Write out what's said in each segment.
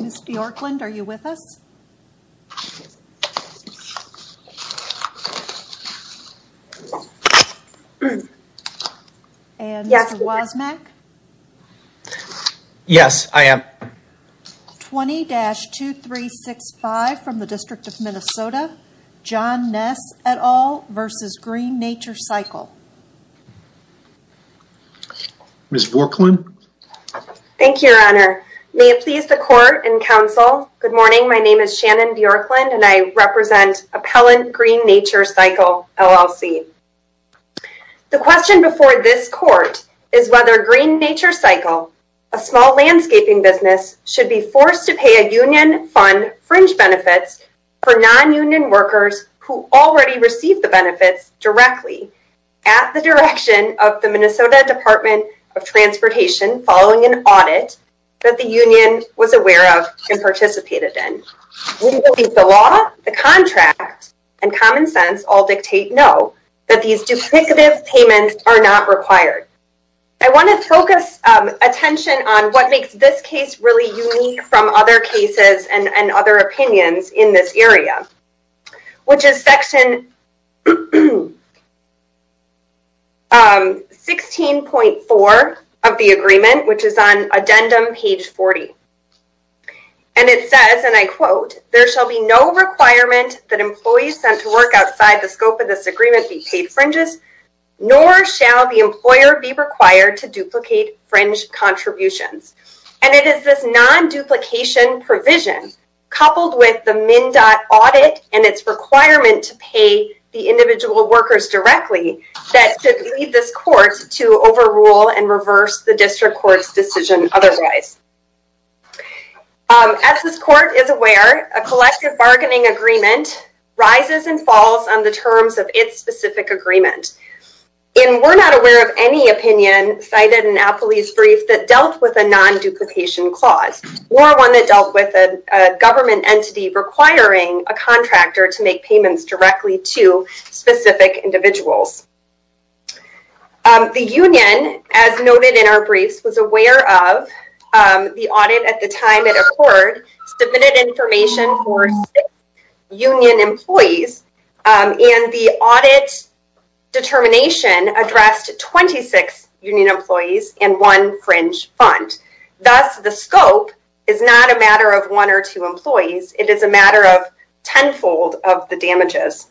Ms. Bjorklund, are you with us? And Mr. Wozniak? Yes, I am. 20-2365 from the District of Minnesota, John Nesse et al. v. Green Nature-Cycle. Ms. Bjorklund. Thank you, Your Honor. May it please the Court and Council, good morning, my name is Shannon Bjorklund and I represent Appellant Green Nature-Cycle, LLC. The question before this Court is whether Green Nature-Cycle, a small landscaping business, should be forced to pay a union fund fringe benefits for non-union workers who already received the benefits directly at the direction of the Minnesota Department of Transportation following an audit that the union was aware of and participated in. We believe the law, the contract, and common sense all dictate no, that these duplicative payments are not required. I want to focus attention on what makes this case really unique from other cases and other opinions in this area, which is section 16.4 of the agreement, which is on addendum page 40, and it says, and I quote, there shall be no requirement that employees sent to work outside the scope of this agreement be paid fringes, nor shall the employer be required to duplicate fringe contributions. And it is this non-duplication provision coupled with the MnDOT audit and its requirement to pay the individual workers directly that should lead this Court to overrule and reverse the district court's decision otherwise. As this Court is aware, a collective bargaining agreement rises and falls on the terms of its specific agreement. And we're not aware of any opinion cited in Appley's brief that dealt with a non-duplication clause or one that dealt with a government entity requiring a contractor to make payments directly to specific individuals. The union, as noted in our briefs, was aware of the audit at the time it occurred, submitted information for six union employees, and the audit determination addressed 26 union employees and one fringe fund. Thus, the scope is not a matter of one or two employees. It is a matter of tenfold of the damages.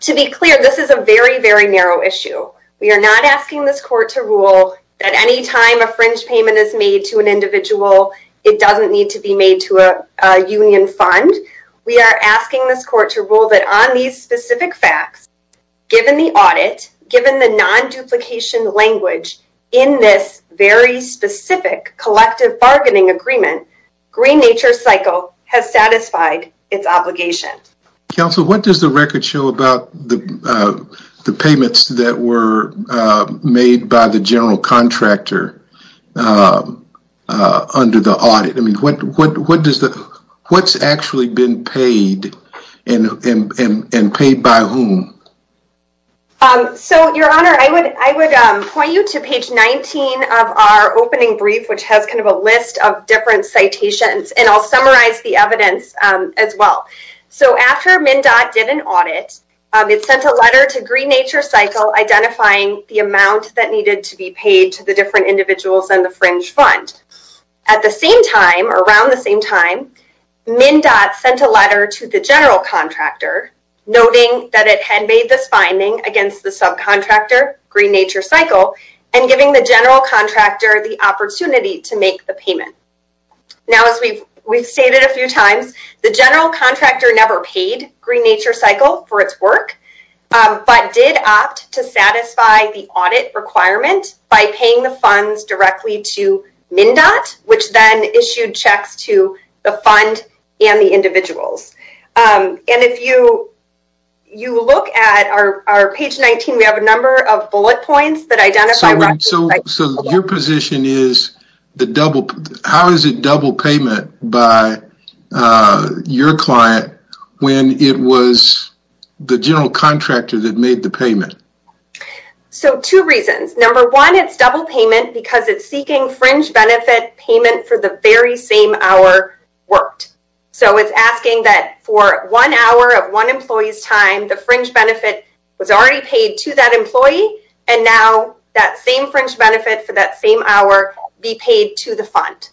To be clear, this is a very, very narrow issue. We are not asking this Court to rule that any time a fringe payment is made to an individual, it doesn't need to be made to a union fund. We are asking this Court to rule that on these in this very specific collective bargaining agreement, Green Nature Cycle has satisfied its obligation. Counsel, what does the record show about the payments that were made by the general contractor under the audit? I mean, what's actually been paid and paid by whom? So, Your Honor, I would point you to page 19 of our opening brief, which has kind of a list of different citations, and I'll summarize the evidence as well. So, after MnDOT did an audit, it sent a letter to Green Nature Cycle identifying the amount that needed to be paid to the different individuals and the fringe fund. At the same time, around the same time, MnDOT sent a against the subcontractor, Green Nature Cycle, and giving the general contractor the opportunity to make the payment. Now, as we've stated a few times, the general contractor never paid Green Nature Cycle for its work, but did opt to satisfy the audit requirement by paying the funds directly to MnDOT, which then issued checks to the fund and the individuals. And if you you look at our page 19, we have a number of bullet points that identify... So, your position is, how is it double payment by your client when it was the general contractor that made the payment? So, two reasons. Number one, it's double payment because it's seeking fringe benefit payment for the very same hour worked. So, it's asking that for one hour of one employee's time, the fringe benefit was already paid to that employee and now that same fringe benefit for that same hour be paid to the fund.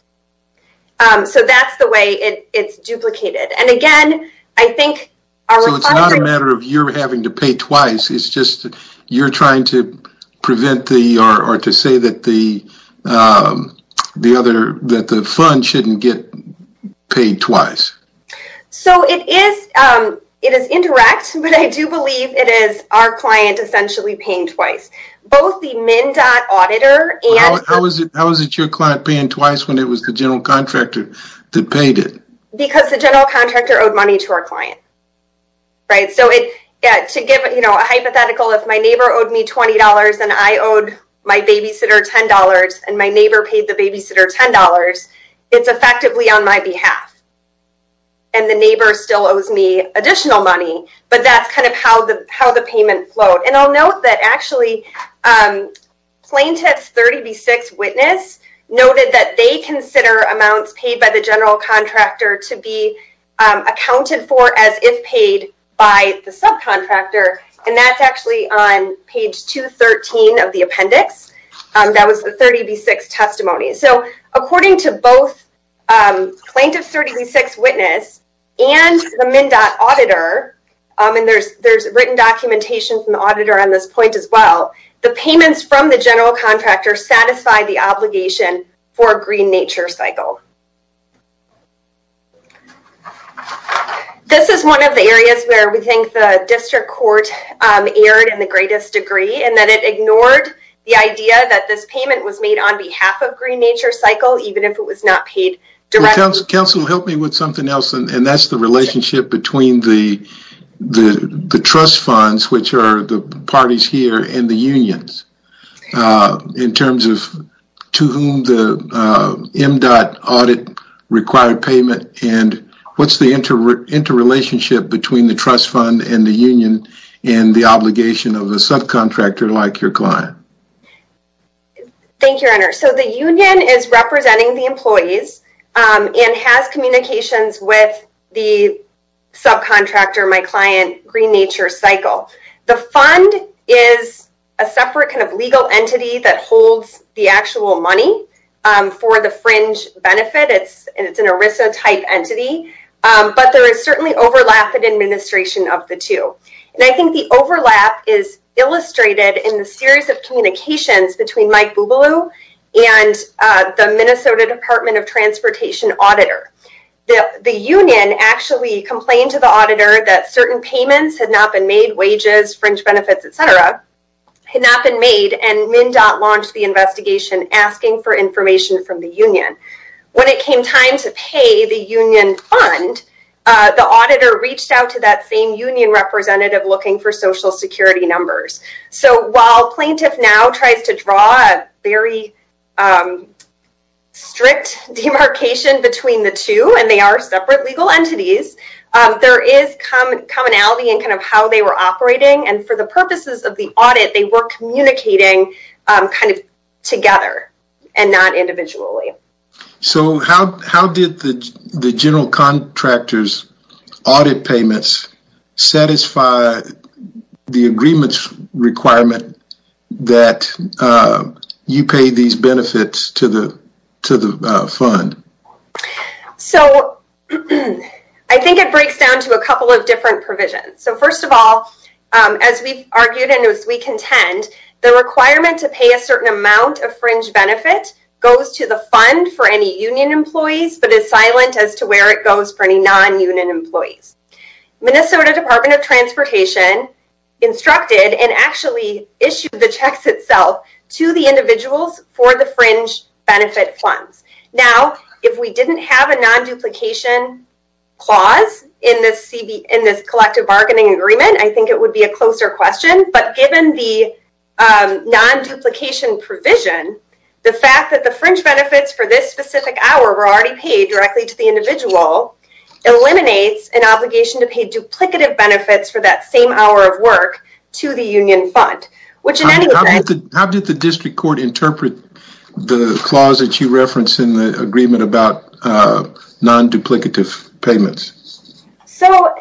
So, that's the way it's duplicated. And again, I think... So, it's not a matter of you're having to pay twice, it's just you're trying to prevent the or to say that the fund shouldn't get paid twice. So, it is indirect, but I do believe it is our client essentially paying twice. Both the MnDOT auditor and... How was it your client paying twice when it was the general contractor that paid it? Because the general contractor owed money to our client, right? So, to give a hypothetical, if my neighbor owed me $20 and I owed my babysitter $10 and my neighbor paid the babysitter $10, it's effectively on my behalf. And the neighbor still owes me additional money, but that's kind of how the payment flowed. And I'll note that actually plaintiff's 30B6 witness noted that they consider amounts paid by the general contractor to be accounted for as if paid by the subcontractor. And that's actually on page 213 of the appendix. That was the 30B6 testimony. So, according to both plaintiff's 30B6 witness and the MnDOT auditor, and there's written documentation from the auditor on this point as well, the payments from the general contractor satisfy the obligation for a green nature cycle. This is one of the areas where we think the district court erred in the greatest degree and that it ignored the idea that this payment was made on behalf of green nature cycle, even if it was not paid directly. Counselor, help me with something else. And that's the relationship between the trust funds, which are the parties here and the unions, in terms of to whom the MnDOT audit required payment and what's the interrelationship between the trust and the union and the obligation of the subcontractor like your client? Thank you, your honor. So, the union is representing the employees and has communications with the subcontractor, my client, green nature cycle. The fund is a separate kind of legal entity that holds the actual money for the fringe benefit. It's an ERISA type entity, but there is a relationship between the two. And I think the overlap is illustrated in the series of communications between Mike and the Minnesota department of transportation auditor. The union actually complained to the auditor that certain payments had not been made, wages, fringe benefits, et cetera, had not been made and MnDOT launched the investigation asking for information from the union. When it came time to pay the union fund, the auditor reached out to that same union representative looking for social security numbers. So, while plaintiff now tries to draw a very strict demarcation between the two and they are separate legal entities, there is commonality in kind of how they were operating and for the purposes of the audit, they were communicating kind of together and not individually. So, how did the general contractor's audit payments satisfy the agreements requirement that you pay these benefits to the fund? So, I think it breaks down to a couple of different provisions. So, first of all, as we argued and as we contend, the requirement to pay a certain amount of fringe benefit goes to the fund for any union employees, but is silent as to where it goes for any nonunion employees. Minnesota department of transportation instructed and actually issued the checks itself to the individuals for the fringe benefit funds. Now, if we didn't have a non-duplication clause in this collective bargaining agreement, I think it would be a closer question. But, given the non-duplication provision, the fact that the fringe benefits for this specific hour were already paid directly to the individual eliminates an obligation to pay duplicative benefits for that same hour of work to the union fund. How did the district court interpret the clause that you referenced in the agreement about non-duplicative payments? So,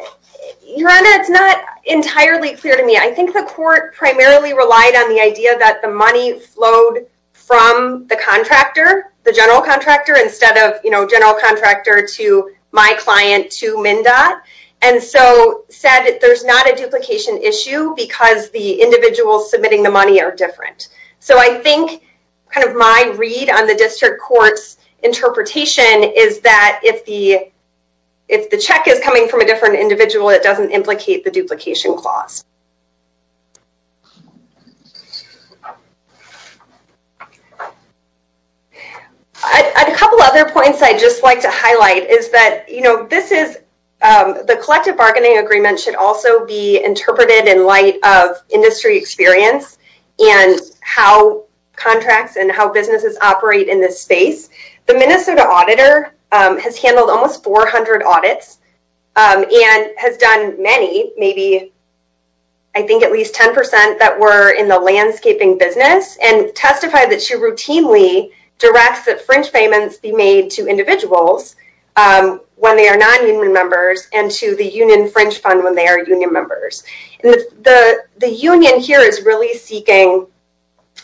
your honor, it's not entirely clear to me. I think the court primarily relied on the idea that the money flowed from the contractor, the general contractor, instead of, you know, general contractor to my client to MnDOT. And so, said there's not a duplication issue because the kind of my read on the district court's interpretation is that if the check is coming from a different individual, it doesn't implicate the duplication clause. A couple other points I'd just like to highlight is that, you know, this is, the collective bargaining agreement should also be interpreted in light of industry experience and how contracts and how businesses operate in this space. The Minnesota auditor has handled almost 400 audits and has done many, maybe, I think at least 10% that were in the landscaping business and testified that she routinely directs that fringe payments be made to individuals when they are non-union members and to the union fringe fund when they are union members. And the union here is really seeking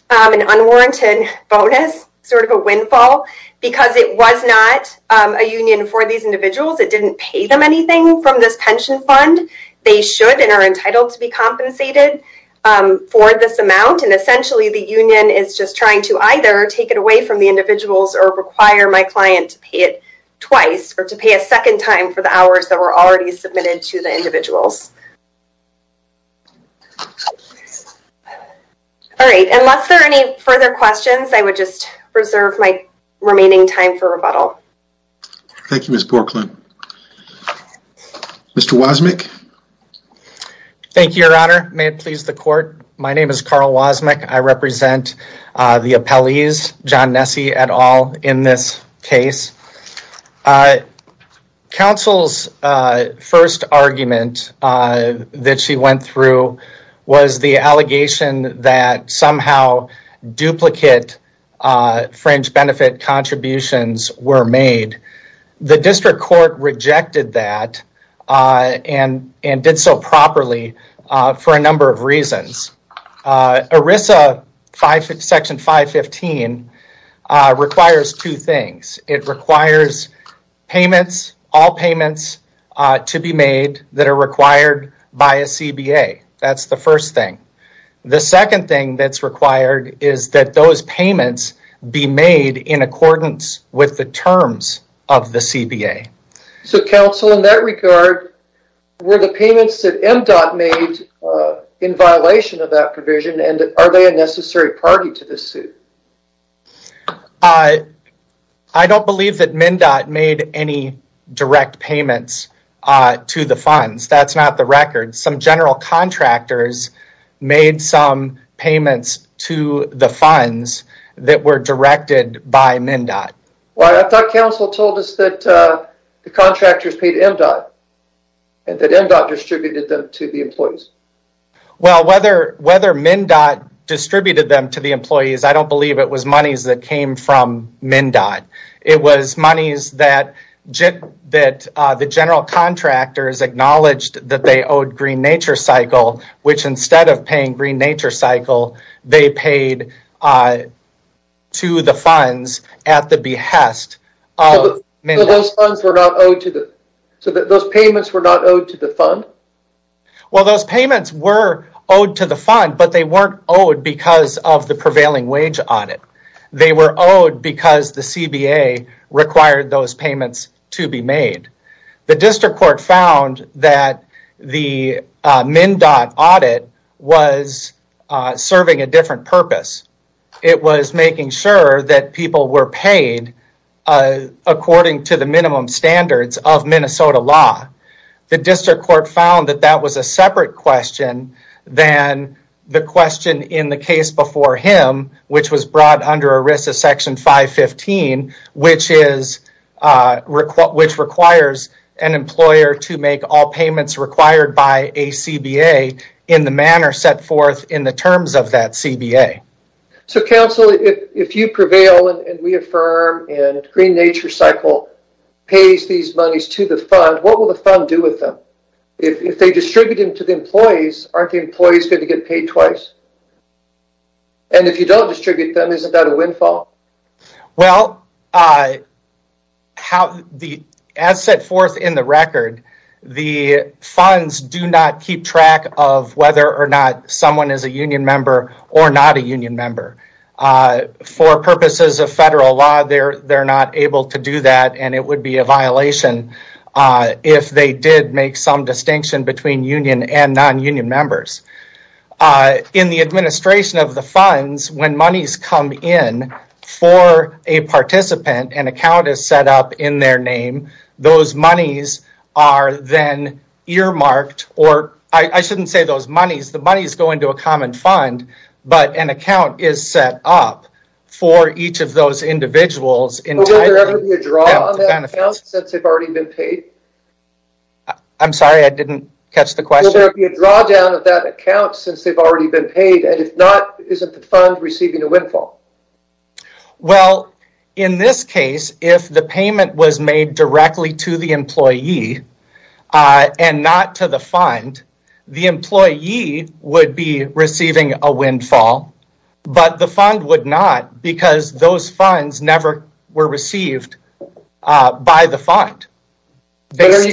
an unwarranted bonus, sort of a windfall, because it was not a union for these individuals. It didn't pay them anything from this pension fund. They should and are entitled to be compensated for this amount. And essentially, the union is just trying to either take it away from the individuals or require my client to pay it twice or to pay a second time for the hours that were already submitted to the individuals. All right, unless there are any further questions, I would just reserve my remaining time for rebuttal. Thank you, Ms. Porkland. Mr. Wasmick. Thank you, your honor. May it please the court. My name is Carl Wasmick. I represent the appellees, John Nessie et al, in this case. Our counsel's first argument that she went through was the allegation that somehow duplicate fringe benefit contributions were made. The district court rejected that and did so properly for a number of reasons. ERISA section 515 requires two things. It requires payments, all payments, to be made that are required by a CBA. That's the first thing. The second thing that's required is that those payments be made in accordance with the terms of the CBA. So, counsel, in that regard, were the payments that MDOT made in violation of that provision and are they a necessary party to this suit? I don't believe that MDOT made any direct payments to the funds. That's not the record. Some general contractors made some payments to the funds that were directed by MDOT. Well, I thought counsel told us that the contractors paid MDOT and that MDOT distributed them to the employees. Well, whether MDOT distributed them to the employees, I don't believe it was monies that came from MDOT. It was monies that the general contractors acknowledged that they owed Green Nature Cycle, which instead of paying Green Nature Cycle, they paid to the behest of MDOT. So, those payments were not owed to the fund? Well, those payments were owed to the fund, but they weren't owed because of the prevailing wage audit. They were owed because the CBA required those payments to be made. The district court found that the payments were made according to the minimum standards of Minnesota law. The district court found that that was a separate question than the question in the case before him, which was brought under ERISA section 515, which requires an employer to make all payments required by a CBA in the manner set forth in the terms of that CBA. So, counsel, if you prevail and we affirm and Green Nature Cycle pays these monies to the fund, what will the fund do with them? If they distribute them to the employees, aren't the employees going to get paid twice? And if you don't distribute them, isn't that a windfall? Well, as set forth in the record, the funds do not keep track of whether or not someone is a union member or not a union member. For purposes of federal law, they're not able to do that and it would be a violation if they did make some distinction between union and non-union members. In the administration of the funds, when monies come in for a participant, an account is set up in their name. Those monies are then earmarked, or I shouldn't say those monies, the monies go into a common fund, but an account is set up for each of those individuals. Will there ever be a drawdown of that account since they've already been paid? I'm sorry, I didn't catch the question. Will there be a drawdown of that account since they've already been paid and if not, isn't the fund receiving a windfall? Well, in this case, if the payment was made directly to the employee and not to the fund, the employee would be receiving a windfall, but the fund would not because those funds never were received by the fund. They would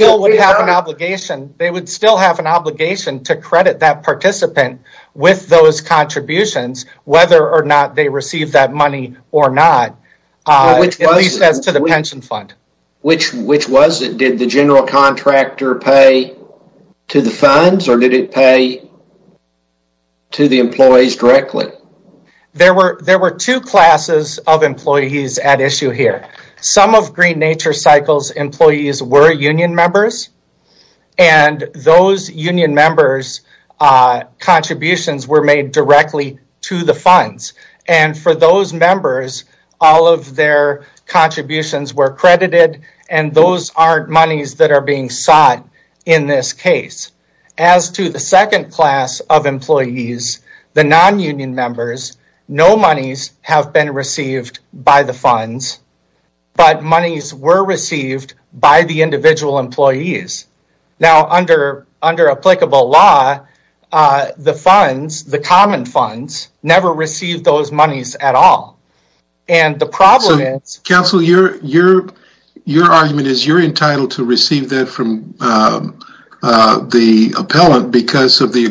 still have an obligation to credit that participant with those contributions, whether or not they receive that money or not, at least as to the pension fund. Which was it? Did the general contractor pay to the funds or did it pay to the employees directly? There were two classes of employees at issue here. Some of Green Nature Cycle's employees were union members and those union members' contributions were made directly to the funds and for those members, all of their contributions were credited and those aren't monies that are being sought in this case. As to the funds, but monies were received by the individual employees. Now, under applicable law, the funds, the common funds, never received those monies at all. And the problem is... Counsel, your argument is you're entitled to receive that from the appellant because of the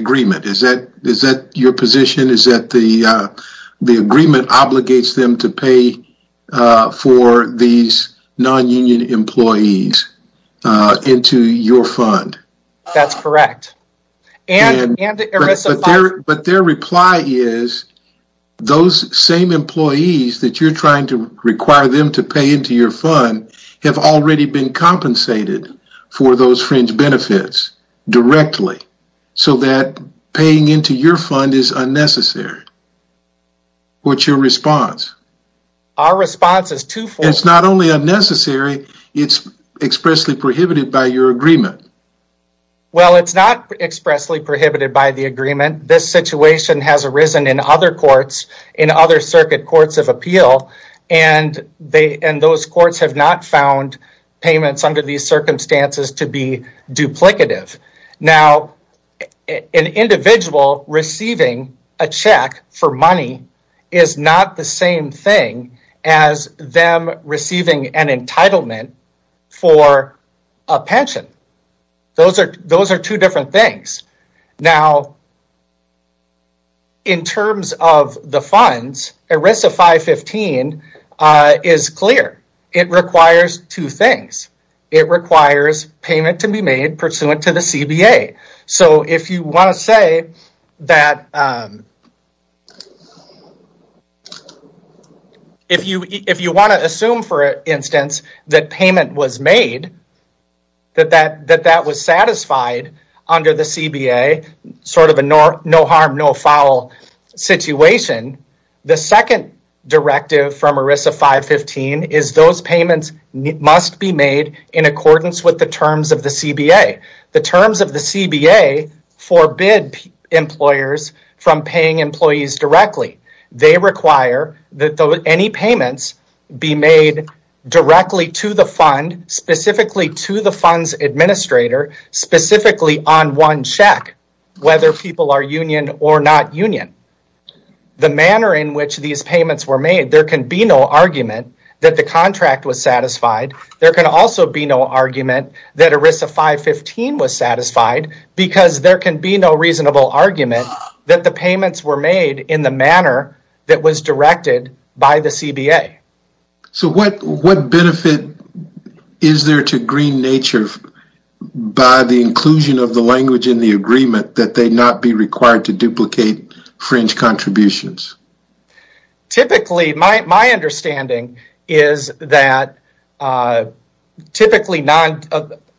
for these non-union employees into your fund. That's correct. But their reply is those same employees that you're trying to require them to pay into your fund have already been compensated for those fringe benefits directly so that paying into your fund is unnecessary. What's your response? Our response is twofold. It's not only unnecessary, it's expressly prohibited by your agreement. Well, it's not expressly prohibited by the agreement. This situation has arisen in other courts, in other circuit courts of appeal, and those courts have not found payments under these circumstances to be duplicative. Now, an individual receiving a check for money is not the same thing as them receiving an entitlement for a pension. Those are two different things. Now, in terms of the funds, ERISA 515 is clear. It requires two things. It requires payment to be made pursuant to the CBA. So if you want to say that... If you want to assume, for instance, that payment was made, that that was satisfied under the CBA, sort of a no harm, no foul situation, the second directive from ERISA 515 is those payments must be made in accordance with the terms of the CBA. The terms of the CBA forbid employers from paying employees directly. They require that any payments be made directly to the fund, specifically to the funds administrator, specifically on one check, whether people are union or not union. The manner in which these payments were made, there can be no argument that the contract was satisfied. There can also be no argument that ERISA 515 was satisfied because there can be no reasonable argument that the payments were made in the manner that was directed by the CBA. So what benefit is there to green nature by the inclusion of the language in the agreement that they not be required to duplicate fringe contributions? Typically, my understanding is that typically,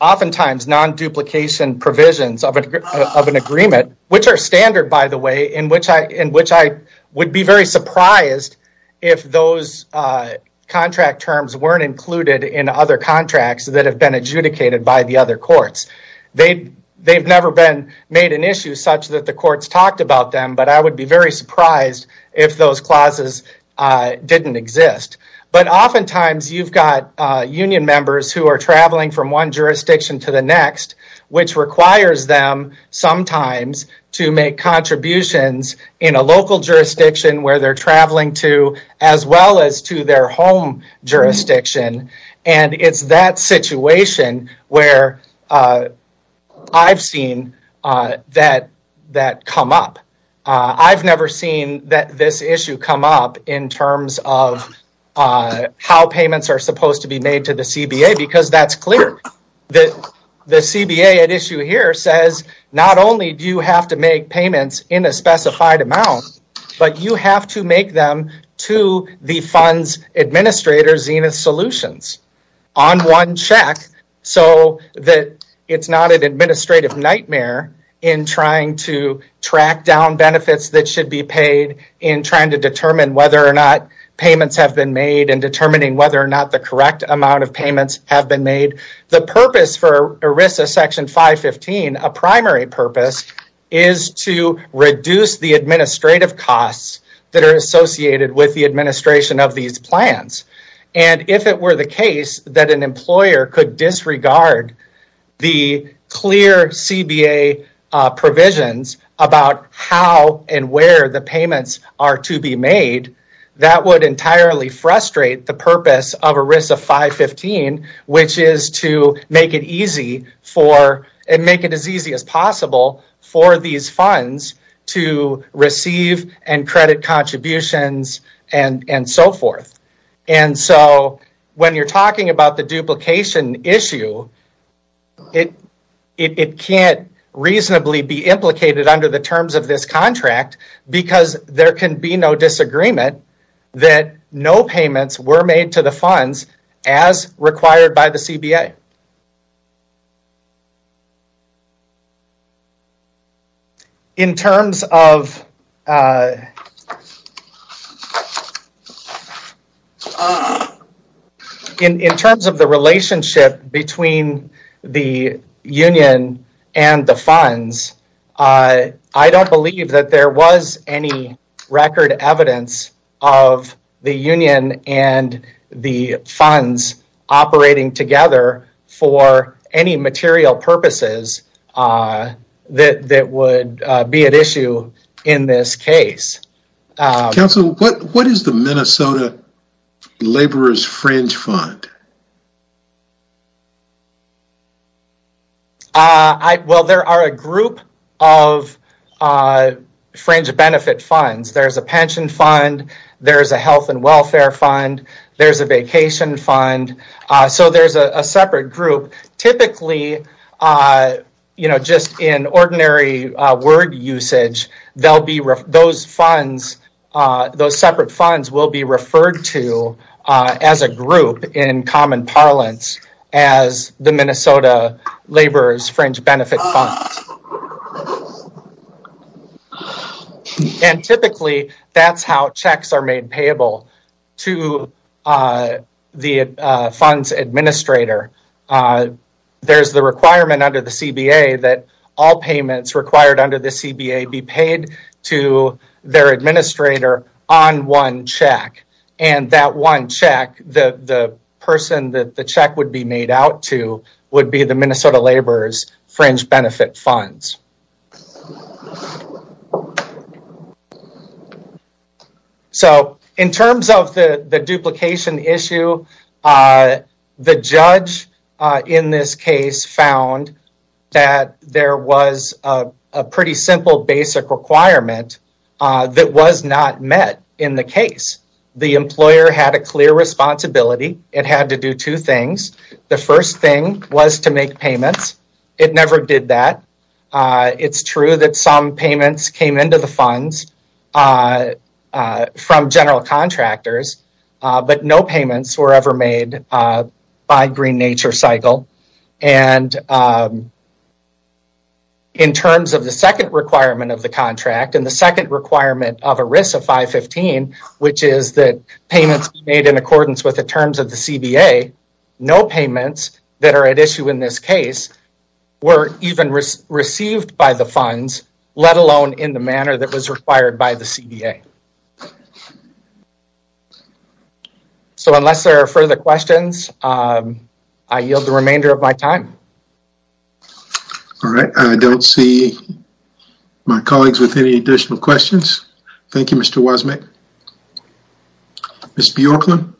oftentimes, non-duplication provisions of an agreement, which are standard, by the way, in which I would be very surprised if those contract terms weren't included in other contracts that have been adjudicated by the other courts. They've never been made an issue such that the courts talked about them, but I would be very surprised if those clauses didn't exist. But oftentimes, you've got union members who are sometimes to make contributions in a local jurisdiction where they're traveling to, as well as to their home jurisdiction, and it's that situation where I've seen that come up. I've never seen this issue come up in terms of how payments are supposed to be made to the CBA because that's clear. The CBA at issue here says not only do you have to make payments in a specified amount, but you have to make them to the fund's administrator, Zenith Solutions, on one check so that it's not an administrative nightmare in trying to track down benefits that should be paid, in trying to determine whether or not payments have been made, and determining whether or not the correct amount of payments have been made. The purpose for ERISA Section 515, a primary purpose, is to reduce the administrative costs that are associated with the administration of these plans. And if it were the case that an employer could disregard the clear CBA provisions about how and where the payments are to be made, that would entirely frustrate the purpose of ERISA 515, which is to make it as easy as possible for these funds to receive and credit contributions and so forth. And so when you're talking about the duplication issue, it can't reasonably be duplicated under the terms of this contract because there can be no disagreement that no payments were made to the funds as required by the CBA. In terms of the relationship between the union and the funds, I don't believe that there was any record evidence of the union and the funds operating together for any material purposes that would be at issue in this case. Council, what is the Minnesota Laborers' Fringe Fund? Well, there are a group of fringe benefit funds. There's a pension fund, there's a health and welfare fund, there's a vacation fund, so there's a separate group. Typically, just in ordinary word usage, those separate funds will be referred to as a group in common parlance as the Minnesota Laborers' Fringe Benefit Fund. And typically, that's how checks are made payable to the funds administrator. There's the requirement under the CBA that all payments required under the CBA be paid to their administrator on one check, and that one check, the person that the check would be made out to would be the Minnesota Laborers' Fringe Benefit Funds. So, in terms of the duplication issue, the judge in this case found that there was a pretty simple basic requirement that was not met in the case. The employer had a clear responsibility. It had to do two things. The first thing was to make payments. It never did that. It's true that some payments came into the funds from general contractors, but no payments were ever made by Green Nature Cycle. And in terms of the second requirement of the contract, and the second requirement of ERISA 515, which is that payments be made in accordance with the CBA, no payments that are at issue in this case were even received by the funds, let alone in the manner that was required by the CBA. So, unless there are further questions, I yield the remainder of my time. All right, I don't see my colleagues with any additional questions. Thank you, Mr. Wasmick. Ms. Bjorkman?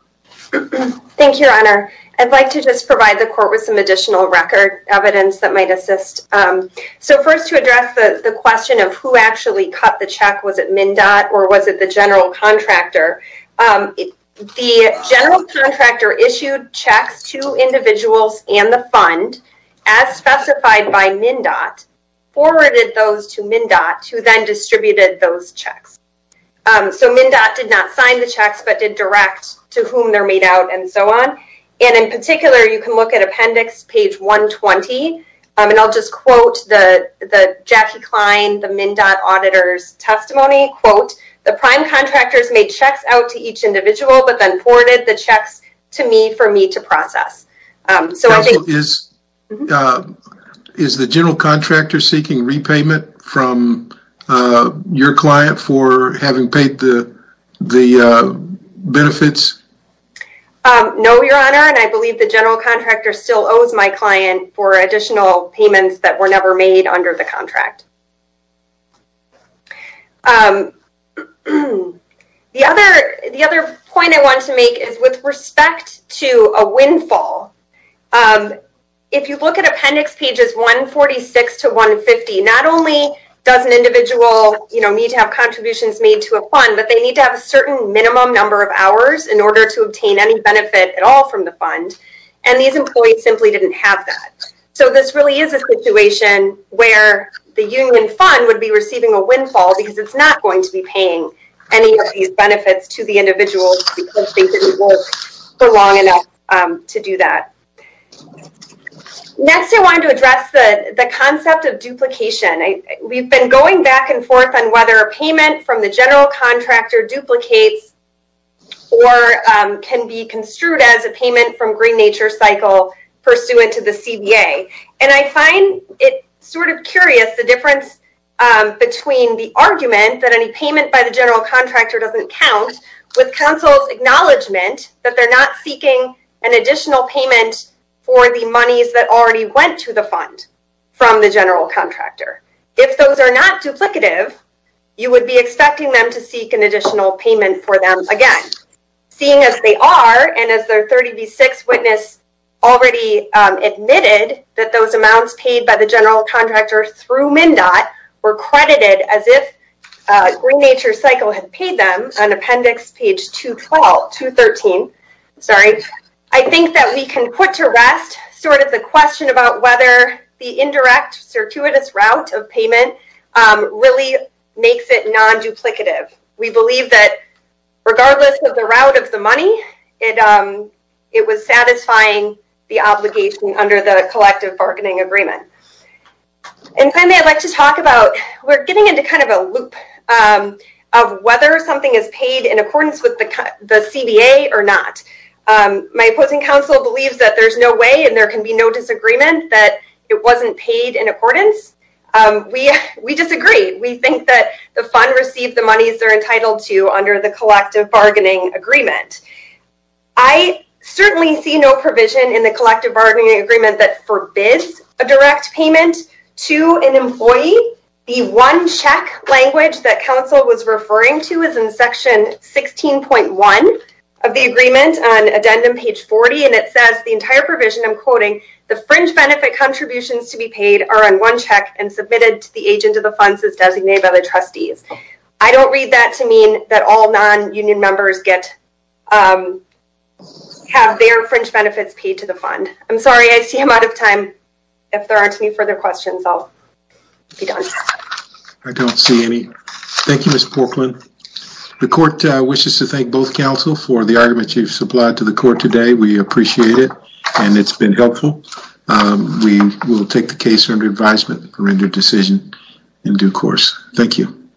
Thank you, Your Honor. I'd like to just provide the court with some additional record evidence that might assist. So, first, to address the question of who actually cut the check, was it MnDOT or was it the general contractor? The general contractor issued checks to individuals and the fund, as specified by MnDOT, forwarded those to MnDOT, who then distributed those checks. So, MnDOT did not sign the checks, but did direct to whom they're made out and so on. And in particular, you can look at appendix page 120. And I'll just quote the Jackie Klein, the MnDOT auditor's testimony, quote, the prime contractors made checks out to each individual, but then forwarded the checks to me for me to process. Counsel, is the general contractor seeking repayment from your client for having paid the benefits? No, Your Honor. And I believe the general contractor still owes my client for additional payments that were never made under the contract. The other point I want to make is with respect to a windfall, if you look at appendix pages 146 to 150, not only does an individual need to have contributions made to a fund, but they need to have a certain minimum number of hours in order to obtain any benefit at all from the fund. And these employees simply didn't have that. So, this really is a the union fund would be receiving a windfall because it's not going to be paying any of these benefits to the individuals because they didn't work for long enough to do that. Next, I wanted to address the concept of duplication. We've been going back and forth on whether a payment from the general contractor duplicates or can be construed as payment from green nature cycle pursuant to the CBA. And I find it sort of curious the difference between the argument that any payment by the general contractor doesn't count with counsel's acknowledgment that they're not seeking an additional payment for the monies that already went to the fund from the general contractor. If those are not duplicative, you would be expecting them to seek an additional payment for them again. Seeing as they are and as their 30b6 witness already admitted that those amounts paid by the general contractor through MnDOT were credited as if green nature cycle had paid them on appendix page 213, I think that we can put to rest sort of the question about whether the indirect circuitous route of payment really makes it non-duplicative. We believe that regardless of the route of the money, it was satisfying the obligation under the collective bargaining agreement. And finally, I'd like to talk about we're getting into kind of a loop of whether something is paid in accordance with the CBA or not. My opposing counsel believes that there's no way and there can be no disagreement that it wasn't paid in accordance. We disagree. We think that the fund received the monies they're entitled to under the collective bargaining agreement. I certainly see no provision in the collective bargaining agreement that forbids a direct payment to an employee. The one check language that counsel was referring to is in section 16.1 of the agreement on addendum page 40 and it says the entire provision, I'm quoting, the fringe benefit contributions to be paid are on one check and submitted to the agent of the funds as designated by the trustees. I don't read that to mean that all non-union members have their fringe benefits paid to the fund. I'm sorry, I see I'm out of time. If there aren't any further questions, I'll be done. I don't see any. Thank you, Ms. Porkland. The court wishes to thank both counsel for the argument you've supplied to the appreciate it and it's been helpful. We will take the case under advisement and render decision in due course. Thank you.